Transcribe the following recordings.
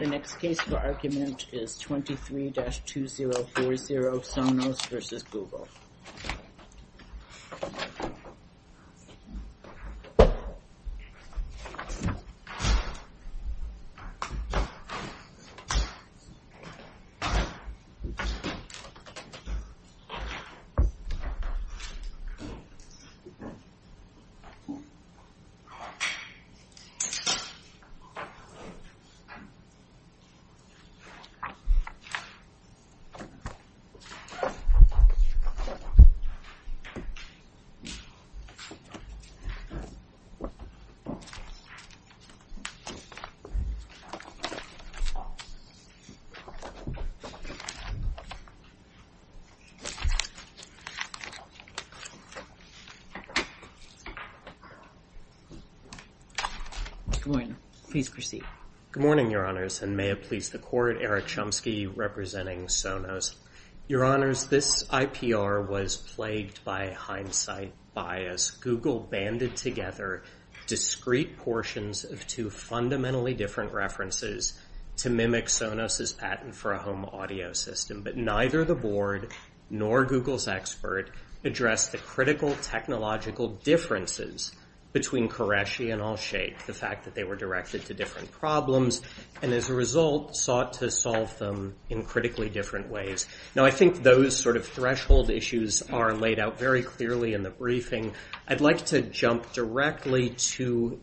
The next case for argument is 23-2040 Sonos v. Google Sonos v. Google Good morning, Your Honors, and may it please the Court, Eric Chomsky representing Sonos. Your Honors, this IPR was plagued by hindsight bias. Google banded together discrete portions of two fundamentally different references to mimic Sonos' patent for a home audio system. But neither the Board nor Google's expert addressed the critical technological differences between Qureshi and Allshake, the fact that they were directed to different problems and as a result sought to solve them in critically different ways. Now, I think those sort of threshold issues are laid out very clearly in the briefing. I'd like to jump directly to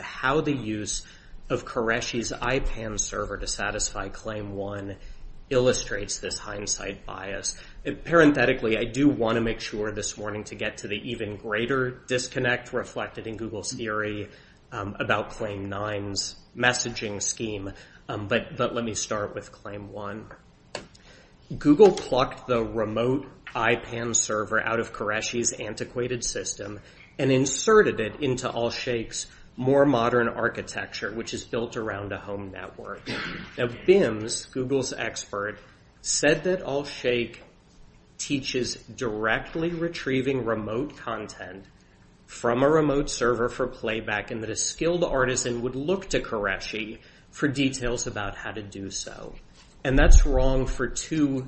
how the use of Qureshi's IPAM server to satisfy Claim 1 illustrates this hindsight bias. Parenthetically, I do want to make sure this morning to get to the even greater disconnect reflected in Google's theory about Claim 9's messaging scheme. But let me start with Claim 1. Google plucked the remote IPAM server out of Qureshi's antiquated system and inserted it into Allshake's more modern architecture, which is built around a home network. Now, BIMS, Google's expert, said that Allshake teaches directly retrieving remote content from a remote server for playback and that a skilled artisan would look to Qureshi for details about how to do so. And that's wrong for two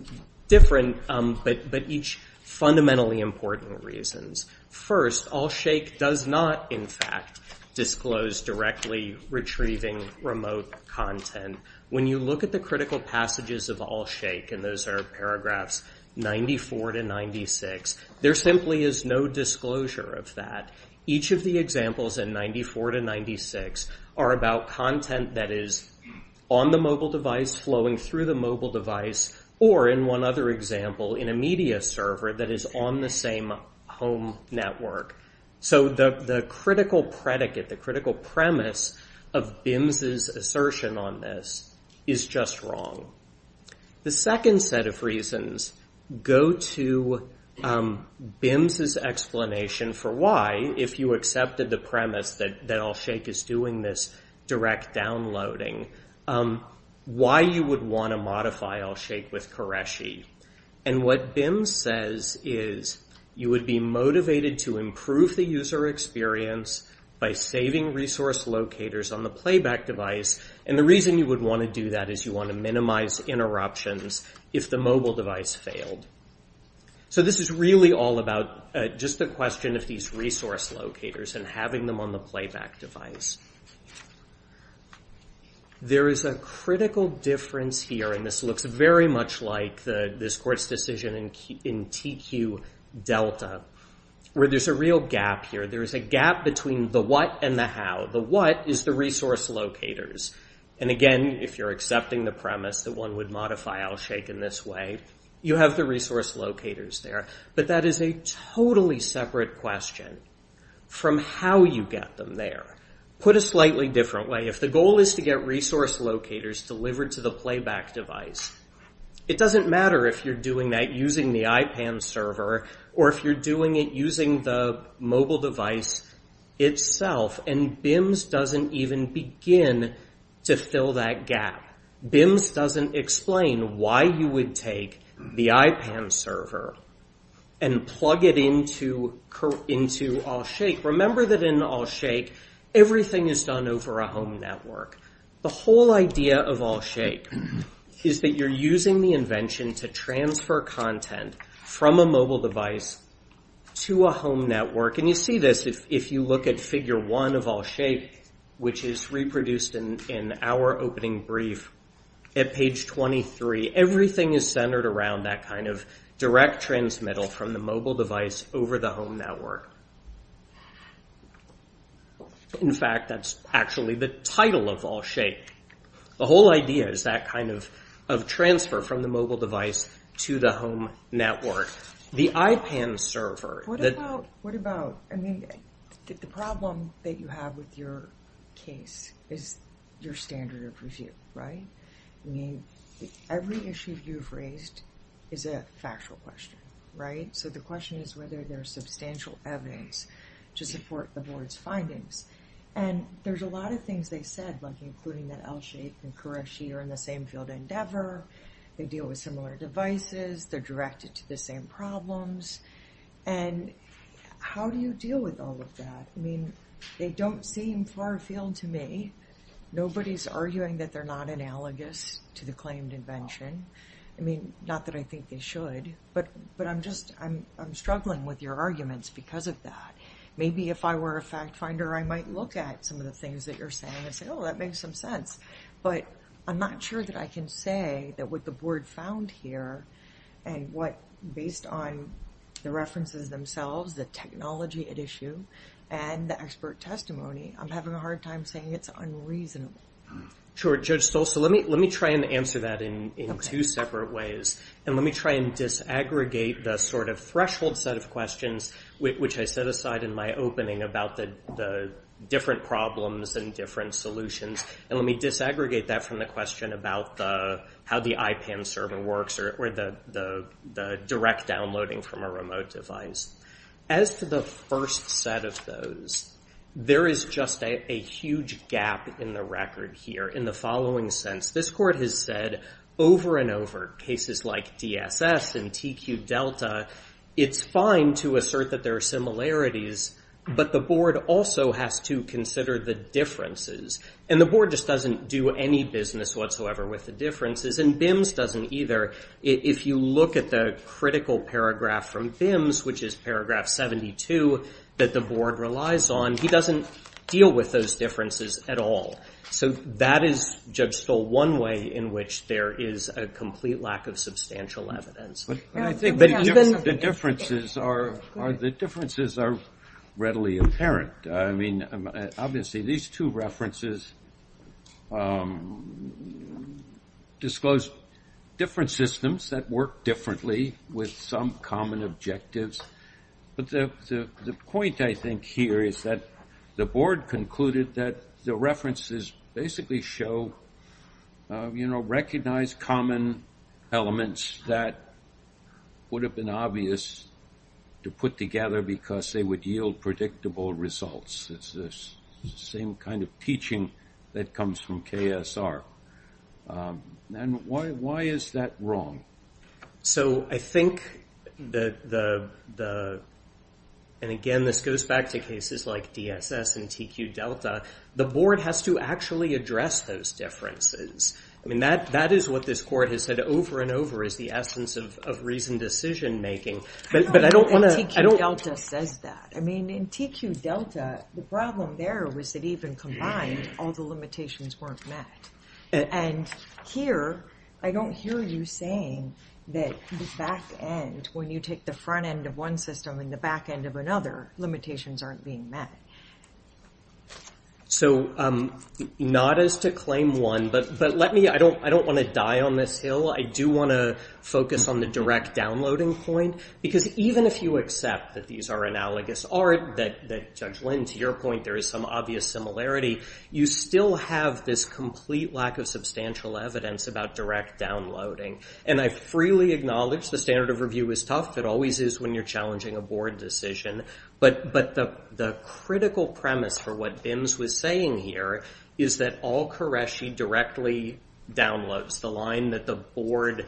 different but each fundamentally important reasons. First, Allshake does not, in fact, disclose directly retrieving remote content. When you look at the critical passages of Allshake, and those are paragraphs 94 to 96, there simply is no disclosure of that. Each of the examples in 94 to 96 are about content that is on the mobile device, flowing through the mobile device, or, in one other example, in a media server that is on the same home network. So the critical predicate, the critical premise of BIMS's assertion on this is just wrong. The second set of reasons go to BIMS's explanation for why, if you accepted the premise that Allshake is doing this direct downloading, why you would want to modify Allshake with Qureshi. And what BIMS says is you would be motivated to improve the user experience by saving resource locators on the playback device, and the reason you would want to do that is you want to minimize interruptions if the mobile device failed. So this is really all about just the question of these resource locators and having them on the playback device. There is a critical difference here, and this looks very much like this court's decision in TQ Delta, where there's a real gap here. There's a gap between the what and the how. The what is the resource locators, and again, if you're accepting the premise that one would modify Allshake in this way, you have the resource locators there, but that is a totally separate question from how you get them there. Put a slightly different way. If the goal is to get resource locators delivered to the playback device, it doesn't matter if you're doing that using the iPad server or if you're doing it using the mobile device itself, and BIMS doesn't even begin to fill that gap. BIMS doesn't explain why you would take the iPad server and plug it into Allshake. Remember that in Allshake, everything is done over a home network. The whole idea of Allshake is that you're using the invention to transfer content from a mobile device to a home network, and you see this if you look at figure one of Allshake, which is reproduced in our opening brief at page 23. Everything is centered around that kind of direct transmittal from the mobile device over the home network. In fact, that's actually the title of Allshake. The whole idea is that kind of transfer from the mobile device to the home network. The iPad server... What about, I mean, the problem that you have with your case is your standard of review, right? I mean, every issue you've raised is a factual question, right? So the question is whether there's substantial evidence to support the board's findings. And there's a lot of things they said, like including that Allshake and Courage Sheet are in the same field of endeavor, they deal with similar devices, they're directed to the same problems. And how do you deal with all of that? I mean, they don't seem far-field to me. Nobody's arguing that they're not analogous to the claimed invention. I mean, not that I think they should, but I'm struggling with your arguments because of that. Maybe if I were a fact finder, I might look at some of the things that you're saying and say, oh, that makes some sense. But I'm not sure that I can say that what the board found here and what, based on the references themselves, the technology at issue, and the expert testimony, I'm having a hard time saying it's unreasonable. Sure, Judge Stolz. So let me try and answer that in two separate ways. And let me try and disaggregate the sort of threshold set of questions which I set aside in my opening about the different problems and different solutions. And let me disaggregate that from the question about how the IPAM server works or the direct downloading from a remote device. As for the first set of those, there is just a huge gap in the record here in the following sense. This court has said over and over, cases like DSS and TQ Delta, it's fine to assert that there are similarities, but the board also has to consider the differences. And the board just doesn't do any business whatsoever with the differences. And BIMS doesn't either. If you look at the critical paragraph from BIMS, which is paragraph 72, that the board relies on, he doesn't deal with those differences at all. So that is, Judge Stolz, one way in which there is a complete lack of substantial evidence. But I think the differences are readily apparent. Obviously, these two references disclose different systems that work differently with some common objectives. But the point I think here is that the board concluded that the references basically show, recognize common elements that would have been obvious to put together because they would yield predictable results. It's the same kind of teaching that comes from KSR. And why is that wrong? So I think that the, and again, this goes back to cases like DSS and TQ Delta, the board has to actually address those differences. I mean, that is what this court has said over and over is the essence of reasoned decision making. And TQ Delta says that. I mean, in TQ Delta, the problem there was that even combined, all the limitations weren't met. And here, I don't hear you saying that the back end, when you take the front end of one system and the back end of another, limitations aren't being met. So not as to claim one, but let me, I don't want to die on this hill. I do want to focus on the direct downloading point. Because even if you accept that these are analogous, or that Judge Lynn, to your point, there is some obvious similarity, you still have this complete lack of substantial evidence about direct downloading. And I freely acknowledge the standard of review is tough. It always is when you're challenging a board decision. But the critical premise for what Vins was saying here is that all Qureshi directly downloads. The line that the board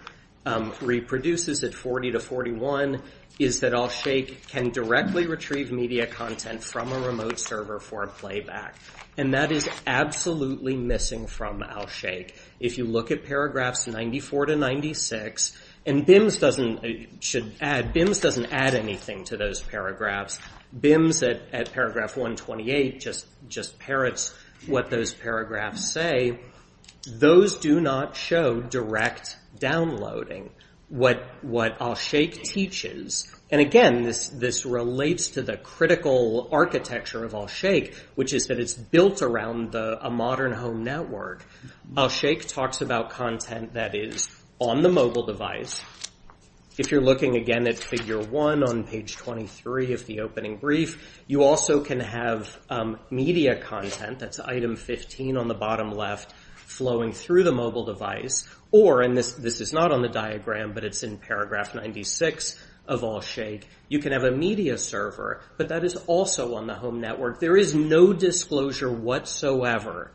reproduces at 40 to 41 is that Alsheikh can directly retrieve media content from a remote server for a playback. And that is absolutely missing from Alsheikh. If you look at paragraphs 94 to 96, and Vins doesn't add anything to those paragraphs. Vins, at paragraph 128, just parrots what those paragraphs say. Those do not show direct downloading. What Alsheikh teaches, and again, this relates to the critical architecture of Alsheikh, which is that it's built around a modern home network. Alsheikh talks about content that is on the mobile device. If you're looking again at figure one on page 23 of the opening brief, you also can have media content. That's item 15 on the bottom left flowing through the mobile device. Or, and this is not on the diagram, but it's in paragraph 96 of Alsheikh, you can have a media server, but that is also on the home network. There is no disclosure whatsoever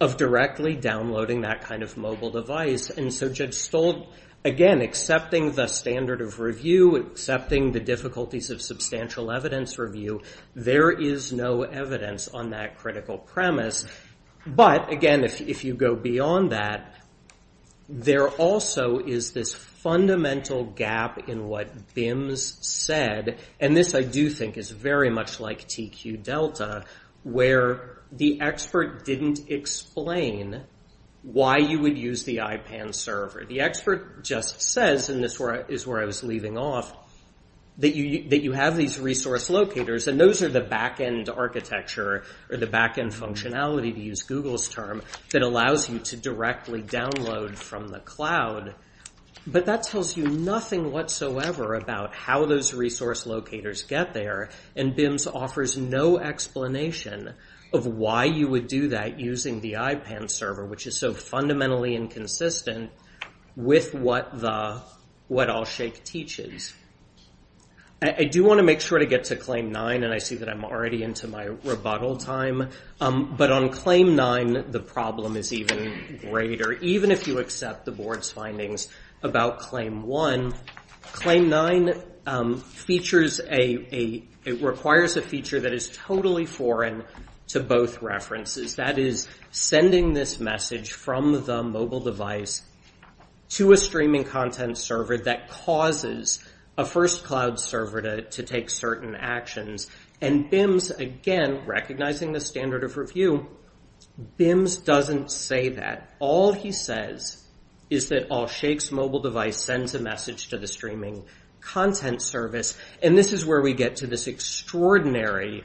of directly downloading that kind of mobile device. And so Judge Stolt, again, accepting the standard of review, accepting the difficulties of substantial evidence review, there is no evidence on that critical premise. But, again, if you go beyond that, there also is this fundamental gap in what Vins said, and this I do think is very much like TQ Delta, where the expert didn't explain why you would use the iPad server. The expert just says, and this is where I was leaving off, that you have these resource locators, and those are the backend architecture, or the backend functionality, to use Google's term, that allows you to directly download from the cloud. But that tells you nothing whatsoever about how those resource locators get there, and Vins offers no explanation of why you would do that using the iPad server, which is so fundamentally inconsistent with what Allshake teaches. I do want to make sure to get to Claim 9, and I see that I'm already into my rebuttal time. But on Claim 9, the problem is even greater. Even if you accept the board's findings about Claim 1, Claim 9 features a, it requires a feature that is totally foreign to both references. That is, sending this message from the mobile device to a streaming content server that causes a first cloud server to take certain actions. And Vins, again, recognizing the standard of review, Vins doesn't say that. All he says is that Allshake's mobile device sends a message to the streaming content service, and this is where we get to this extraordinary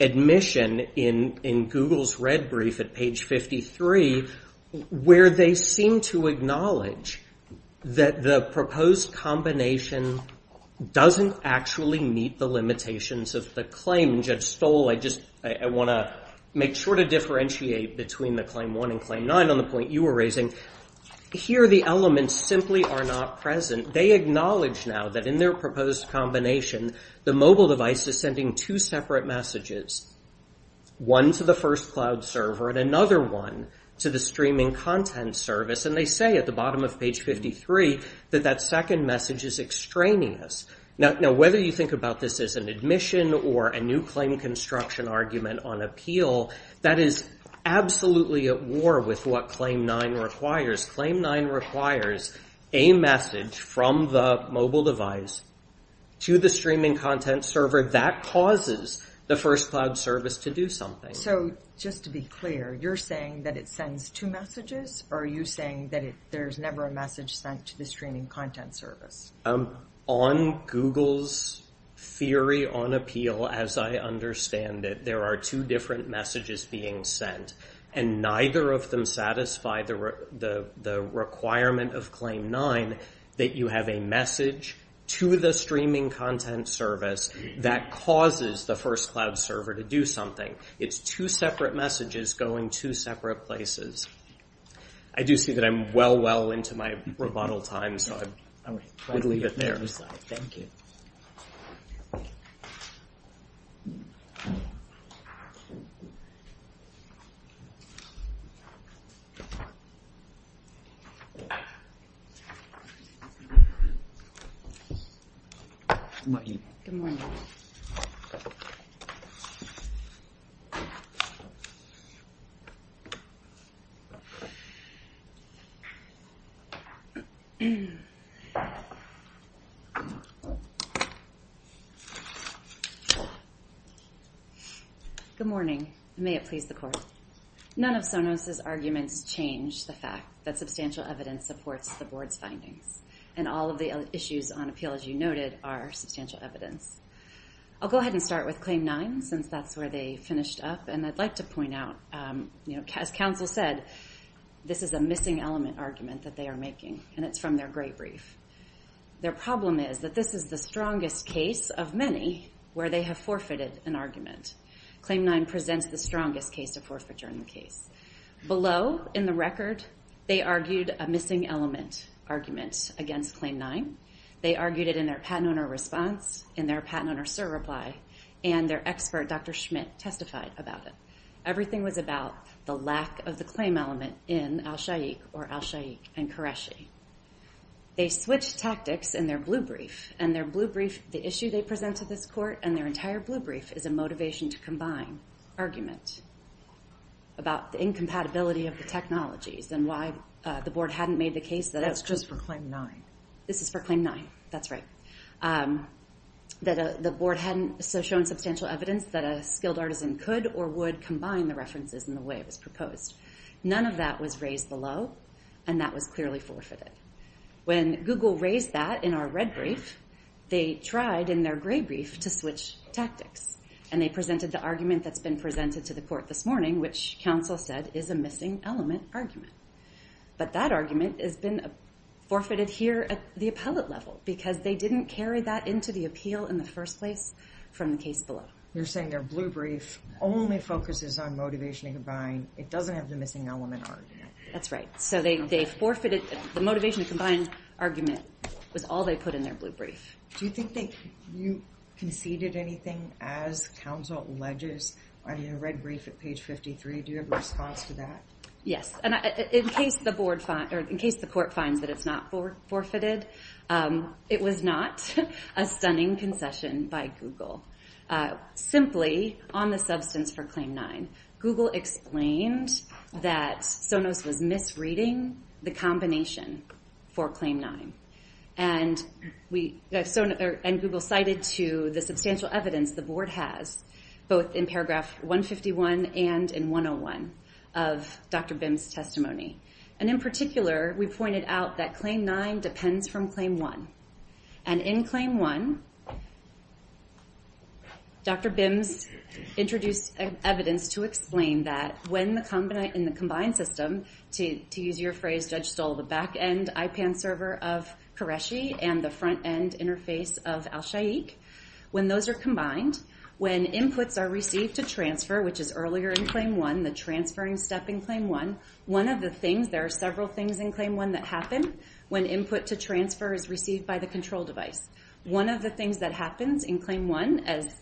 admission in Google's red brief at page 53, where they seem to acknowledge that the proposed combination doesn't actually meet the limitations of the claim. Judge Stoll, I want to make sure to differentiate between the Claim 1 and Claim 9 on the point you were raising. Here, the elements simply are not present. They acknowledge now that in their proposed combination, the mobile device is sending two separate messages, one to the first cloud server and another one to the streaming content service, and they say at the bottom of page 53 that that second message is extraneous. Now, whether you think about this as an admission or a new claim construction argument on appeal, that is absolutely at war with what Claim 9 requires. Claim 9 requires a message from the mobile device to the streaming content server. That causes the first cloud service to do something. So just to be clear, you're saying that it sends two messages, or are you saying that there's never a message sent to the streaming content service? On Google's theory on appeal, as I understand it, there are two different messages being sent, and neither of them satisfy the requirement of Claim 9 that you have a message to the streaming content service that causes the first cloud server to do something. It's two separate messages going to separate places. I do see that I'm well, well into my rebuttal time, so I would leave it there. Thank you. Good morning. Good morning. Good morning. Good morning, and may it please the Court. None of Sonos's arguments change the fact that substantial evidence supports the Board's findings, and all of the issues on appeal, as you noted, are substantial evidence. I'll go ahead and start with Claim 9, since that's where they finished up, and I'd like to point out, as counsel said, this is a missing element argument that they are making, and it's from their great brief. Their problem is that this is the strongest case of many where they have forfeited an argument. Claim 9 presents the strongest case of forfeiture in the case. Below, in the record, they argued a missing element argument against Claim 9. They argued it in their Patent Owner Response, in their Patent Owner Cert Reply, and their expert, Dr. Schmidt, testified about it. Everything was about the lack of the claim element in al-Sha'iq or al-Sha'iq and Qureshi. They switched tactics in their blue brief, and their blue brief, the issue they present to this Court, and their entire blue brief is a motivation to combine argument about the incompatibility of the technologies and why the Board hadn't made the case that... That's just for Claim 9. This is for Claim 9. That's right. That the Board hadn't shown substantial evidence that a skilled artisan could or would combine the references in the way it was proposed. None of that was raised below, and that was clearly forfeited. When Google raised that in our red brief, they tried in their gray brief to switch tactics, and they presented the argument that's been presented to the Court this morning, which counsel said is a missing element argument. But that argument has been forfeited here at the appellate level because they didn't carry that into the appeal in the first place from the case below. You're saying their blue brief only focuses on motivation to combine. It doesn't have the missing element argument. That's right. So they forfeited... The motivation to combine argument was all they put in their blue brief. Do you think you conceded anything as counsel alleges on your red brief at page 53? Do you have a response to that? Yes, and in case the Court finds that it's not forfeited, it was not a stunning concession by Google. Simply, on the substance for Claim 9, Google explained that Sonos was misreading the combination for Claim 9. And Google cited to the substantial evidence the Board has, both in paragraph 151 and in 101 of Dr. Bim's testimony. And in particular, we pointed out that Claim 9 depends from Claim 1. And in Claim 1, Dr. Bim introduced evidence to explain that when the combined system, to use your phrase, Judge Stoll, the back-end IPAN server of Qureshi and the front-end interface of Al Shaikh, when those are combined, when inputs are received to transfer, which is earlier in Claim 1, the transferring step in Claim 1, one of the things... There are several things in Claim 1 that happen when input to transfer is received by the control device. One of the things that happens in Claim 1, as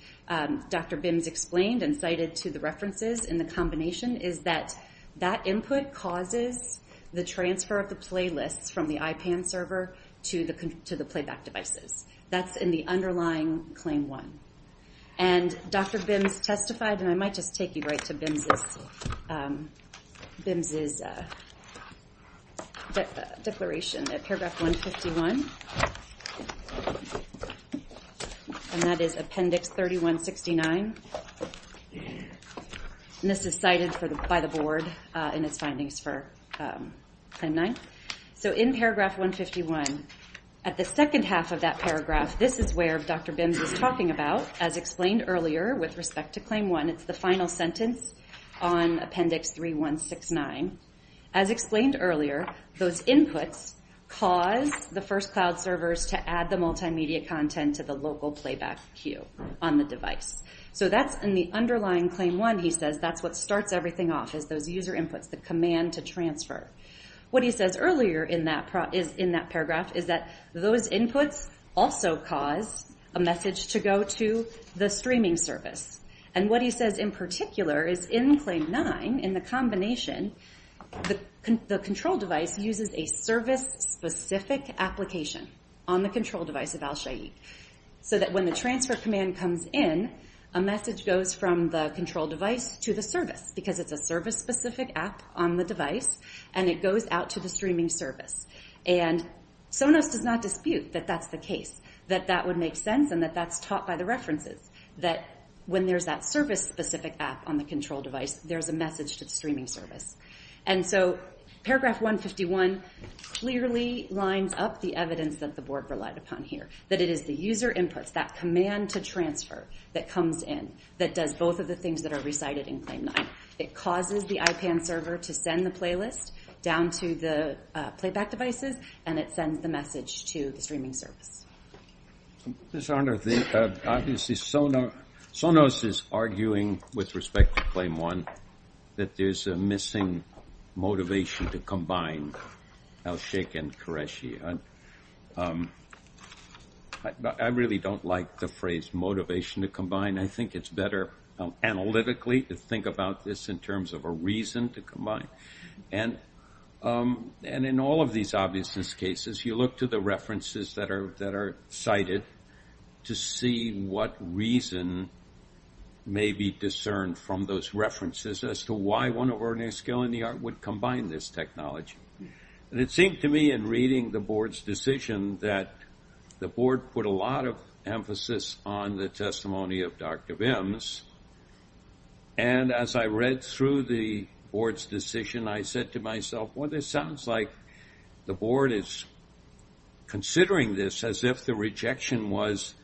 Dr. Bim's explained and cited to the references in the combination, is that that input causes the transfer of the playlists from the IPAN server to the playback devices. That's in the underlying Claim 1. And Dr. Bim's testified, and I might just take you right to Bim's... Bim's... And that is Appendix 3169. And this is cited by the Board in its findings for Claim 9. So in Paragraph 151, at the second half of that paragraph, this is where Dr. Bim was talking about, as explained earlier with respect to Claim 1. It's the final sentence on Appendix 3169. As explained earlier, those inputs cause the first cloud servers to add the multimedia content to the local playback queue on the device. So that's in the underlying Claim 1, he says, that's what starts everything off, is those user inputs, the command to transfer. What he says earlier in that paragraph is that those inputs also cause a message to go to the streaming service. And what he says in particular is in Claim 9, in the combination, the control device uses a service-specific application on the control device of Al Shaikh. So that when the transfer command comes in, a message goes from the control device to the service, because it's a service-specific app on the device, and it goes out to the streaming service. And Sonos does not dispute that that's the case, that that would make sense, and that that's taught by the references, that when there's that service-specific app on the control device, there's a message to the streaming service. And so Paragraph 151 clearly lines up the evidence that the Board relied upon here, that it is the user inputs, that command to transfer that comes in, that does both of the things that are recited in Claim 9. It causes the IPAN server to send the playlist down to the playback devices, and it sends the message to the streaming service. This honor, obviously Sonos is arguing with respect to Claim 1 that there's a missing motivation to combine Alsheikh and Qureshi. I really don't like the phrase motivation to combine. I think it's better analytically to think about this in terms of a reason to combine. And in all of these obviousness cases, you look to the references that are cited to see what reason may be discerned from those references as to why one of our new skill in the art would combine this technology. And it seemed to me in reading the Board's decision that the Board put a lot of emphasis on the testimony of Dr. Bims. And as I read through the Board's decision, I said to myself, well this sounds like the Board is considering this as if the rejection was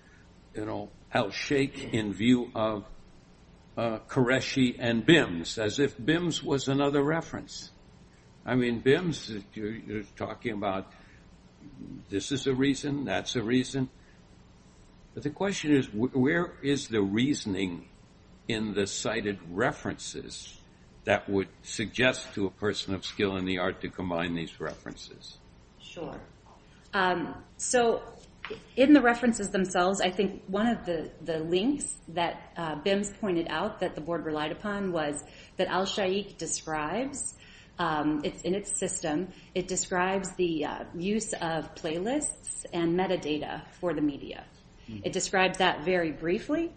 Alsheikh in view of Qureshi and Bims, as if Bims was another reference. I mean Bims, you're talking about this is a reason, that's a reason. But the question is where is the reasoning in the cited references that would suggest to a person of skill in the art to combine these references? Sure. So in the references themselves, I think one of the links that Bims pointed out that the Board relied upon was that Alsheikh describes, it's in its system, it describes the use of playlists and metadata for the media. It describes that very briefly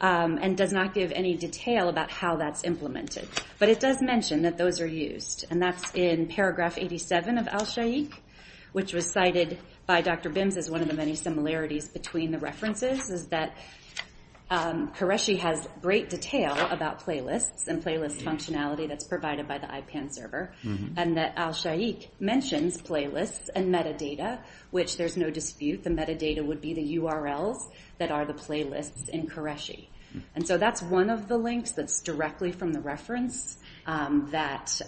and does not give any detail about how that's implemented. But it does mention that those are used and that's in paragraph 87 of Alsheikh, which was cited by Dr. Bims as one of the many similarities between the references, is that Qureshi has great detail about playlists and playlist functionality that's provided by the IPAN server. And that Alsheikh mentions playlists and metadata, which there's no dispute, the metadata would be the URLs that are the playlists in Qureshi. And so that's one of the links that's directly from the reference that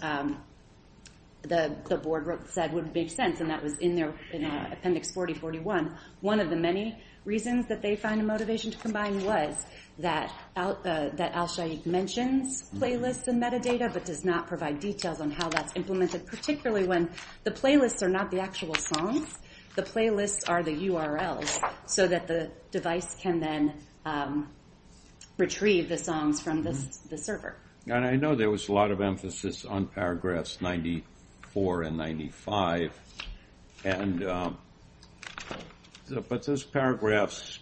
the Board said would make sense and that was in Appendix 4041. One of the many reasons that they find a motivation to combine was that Alsheikh mentions playlists and metadata but does not provide details on how that's implemented, particularly when the playlists are not the actual songs, the playlists are the URLs so that the device can then retrieve the songs from the server. And I know there was a lot of emphasis on paragraphs 94 and 95 but those paragraphs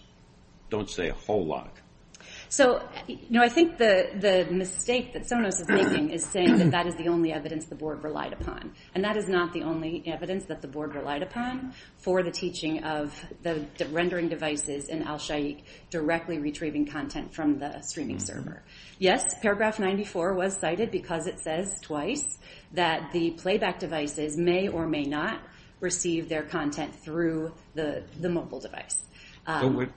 don't say a whole lot. So I think the mistake that Sonos is making is saying that that is the only evidence the Board relied upon and that is not the only evidence that the Board relied upon for the teaching of the rendering devices and Alsheikh directly retrieving content from the streaming server. Yes, paragraph 94 was cited because it says twice that the playback devices may or may not receive their content through the mobile device.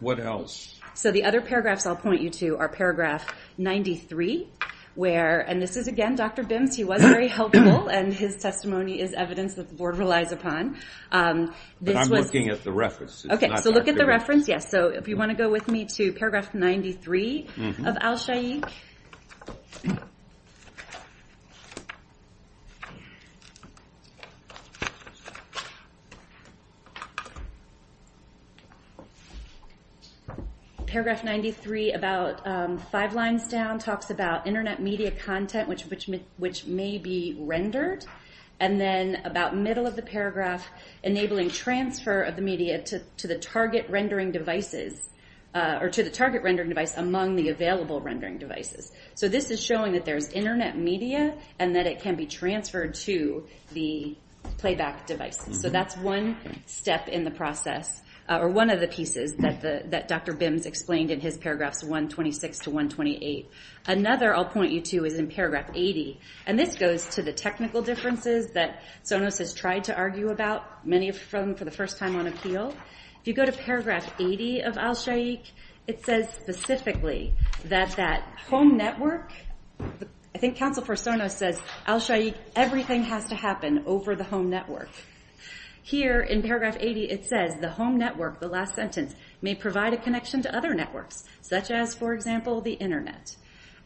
What else? So the other paragraphs I'll point you to are paragraph 93 where, and this is again Dr. Bims, he was very helpful and his testimony is evidence that the Board relies upon. I'm looking at the reference. Okay, so look at the reference, yes. So if you want to go with me to paragraph 93 of Alsheikh. Paragraph 93 about five lines down talks about internet media content which may be rendered and then about middle of the paragraph enabling transfer of the media to the target rendering devices or to the target rendering device among the available rendering devices. So this is showing that there's internet media and that it can be transferred to the playback devices. So that's one step in the process or one of the pieces that Dr. Bims explained in his paragraphs 126 to 128. Another I'll point you to is in paragraph 80 and this goes to the technical differences that Sonos has tried to argue about, many of them for the first time on appeal. If you go to paragraph 80 of Alsheikh it says specifically that that home network, I think Counsel for Sonos says Alsheikh everything has to happen over the home network. Here in paragraph 80 it says the home network, the last sentence, may provide a connection to other networks such as for example the internet.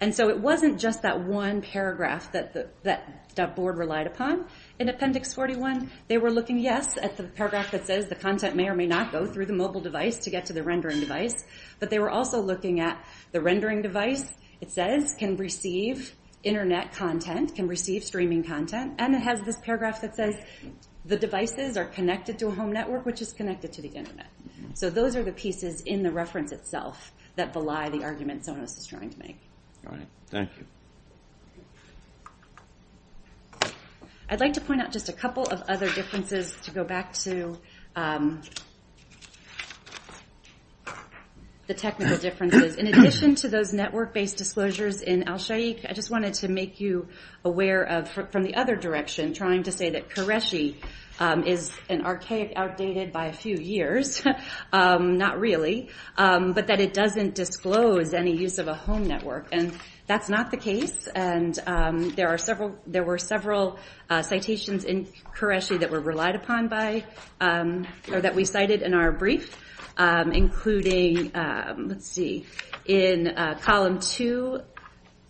And so it wasn't just that one paragraph that that board relied upon. In appendix 41 they were looking yes at the paragraph that says the content may or may not go through the mobile device to get to the rendering device but they were also looking at the rendering device it says can receive internet content, can receive streaming content and it has this paragraph that says the devices are connected to a home network which is connected to the internet. So those are the pieces in the reference itself that belie the argument Sonos is trying to make. Thank you. I'd like to point out just a couple of other differences to go back to the technical differences. In addition to those network based disclosures in Alsheikh I just wanted to make you aware of from the other direction trying to say that Qureshi is an archaic outdated by a few years not really but that it doesn't disclose any use of a home network and that's not the case and there were several citations in Qureshi that were relied upon by or that we cited in our brief including let's see in column 2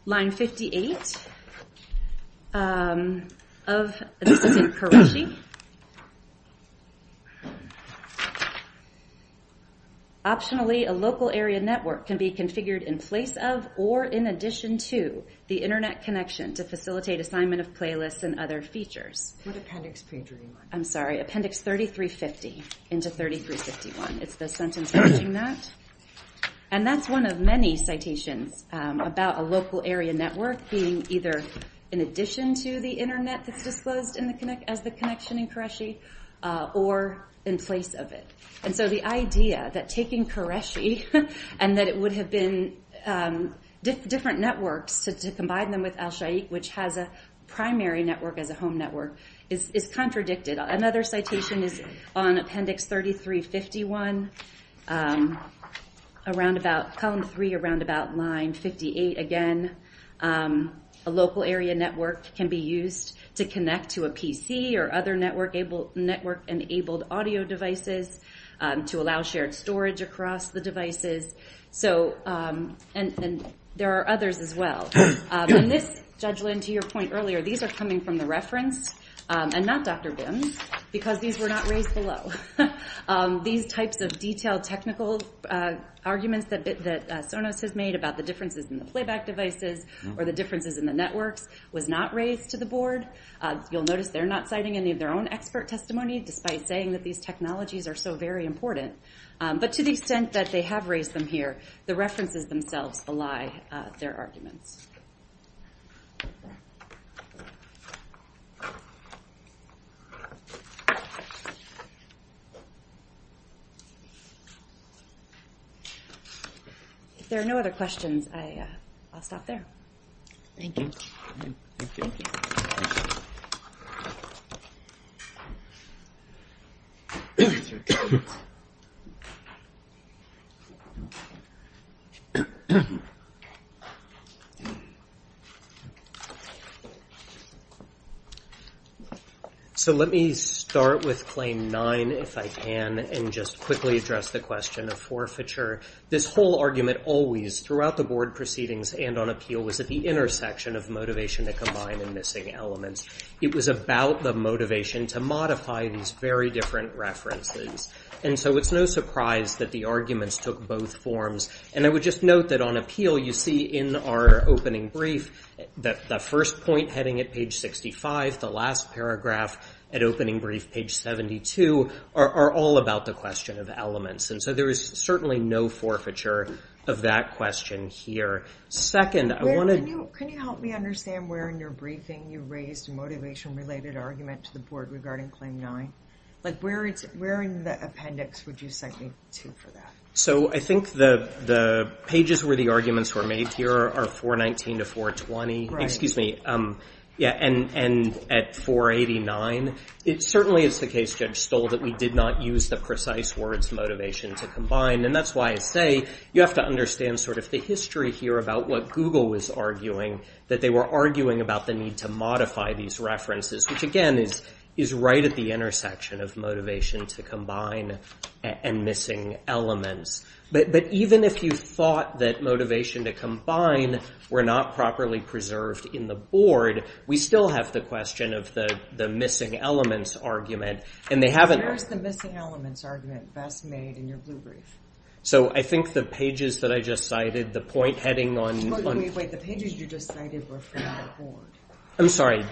line 58 of this is in Qureshi optionally a local area network can be configured in place of or in addition to the internet connection to facilitate assignment of playlists and other features. What appendix page are you on? I'm sorry appendix 3350 into 3351 it's the sentence matching that and that's one of many citations about a local area network being either in addition to the internet that's disclosed as the connection in Qureshi or in place of it and so the idea that taking Qureshi and that it would have been different networks to combine them with Alsheikh which has a primary network as a home network is contradicted another citation is on appendix 3351 around about column 3 around about line 58 again a local area network can be used to connect to a PC or other network network enabled audio devices to allow shared storage across the devices so and there are others as well and this Judge Lynn to your point earlier these are coming from the reference and not Dr. Bim's because these were not raised below these types of detailed technical arguments that Sonos has made about the differences in the playback devices or the differences in the networks was not raised to the board you'll notice they're not citing any of their own expert testimony despite saying that these technologies are so very important but to the extent that they have raised them here the references themselves belie their arguments if there are no other questions I'll stop there thank you so let me start with claim 9 if I can and just quickly address the question of forfeiture this whole argument always throughout the board proceedings and on appeal was at the intersection of motivation to combine and missing elements it was about the motivation to modify these very different references and so it's no surprise that the arguments took both forms and I would just note that on appeal you see in our opening brief that the first point heading at page 65 the last paragraph at opening brief page 72 are all about the question of elements and so there is certainly no forfeiture of that question here second I want to can you help me understand where in your briefing you raised a motivation related argument to the board regarding claim 9 like where in the appendix would you cite me to for that so I think the pages where the arguments were made here are 419 to 420 excuse me and at 489 it certainly is the case that we did not use the precise words motivation to combine and that's why I say you have to understand sort of the history here about what Google was arguing that they were arguing about the need to modify these references which again is right at the intersection of motivation to combine and missing elements but even if you thought that motivation to combine were not properly preserved in the board we still have the question of the missing elements argument and they haven't where is the missing elements argument best made in your blue brief so I think the pages that I just cited the point heading on wait wait wait the pages you just cited were from the board I'm sorry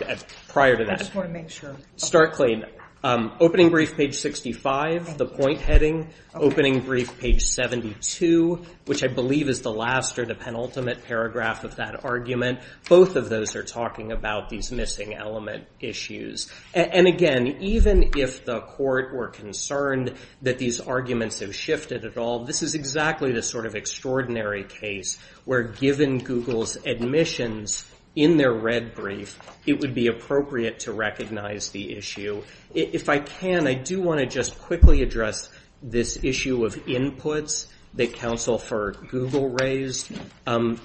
prior to that I just want to make sure start clean opening brief page 65 the point heading opening brief page 72 which I believe is the last or the penultimate paragraph of that argument both of those are talking about these missing element issues and again even if the court were concerned that these arguments have shifted at all this is exactly the sort of extraordinary case where given Google's admissions in their red brief it would be appropriate to recognize the issue if I can I do want to just quickly address this issue of inputs that counsel for Google raised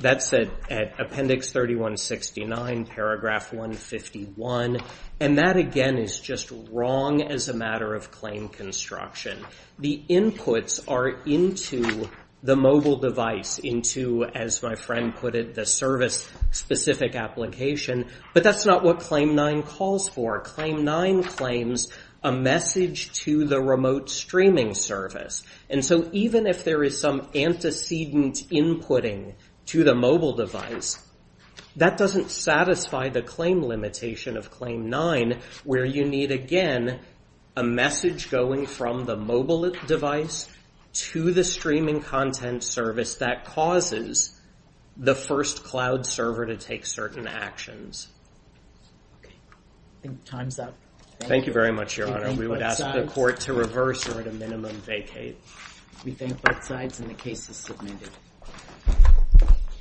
that said at appendix 3169 paragraph 151 and that again is just wrong as a matter of claim construction the inputs are into the mobile device into as my friend put it the service specific application but that's not what claim 9 calls for claim 9 claims a message to the remote streaming service and so even if there is some antecedent inputting to the mobile device that doesn't satisfy the claim limitation of claim 9 where you need again a message going from the mobile device to the streaming content service that causes the first cloud server to take certain actions I think time's up thank you very much your honor we would ask the court to reverse or at a minimum vacate we thank both sides and the case is submitted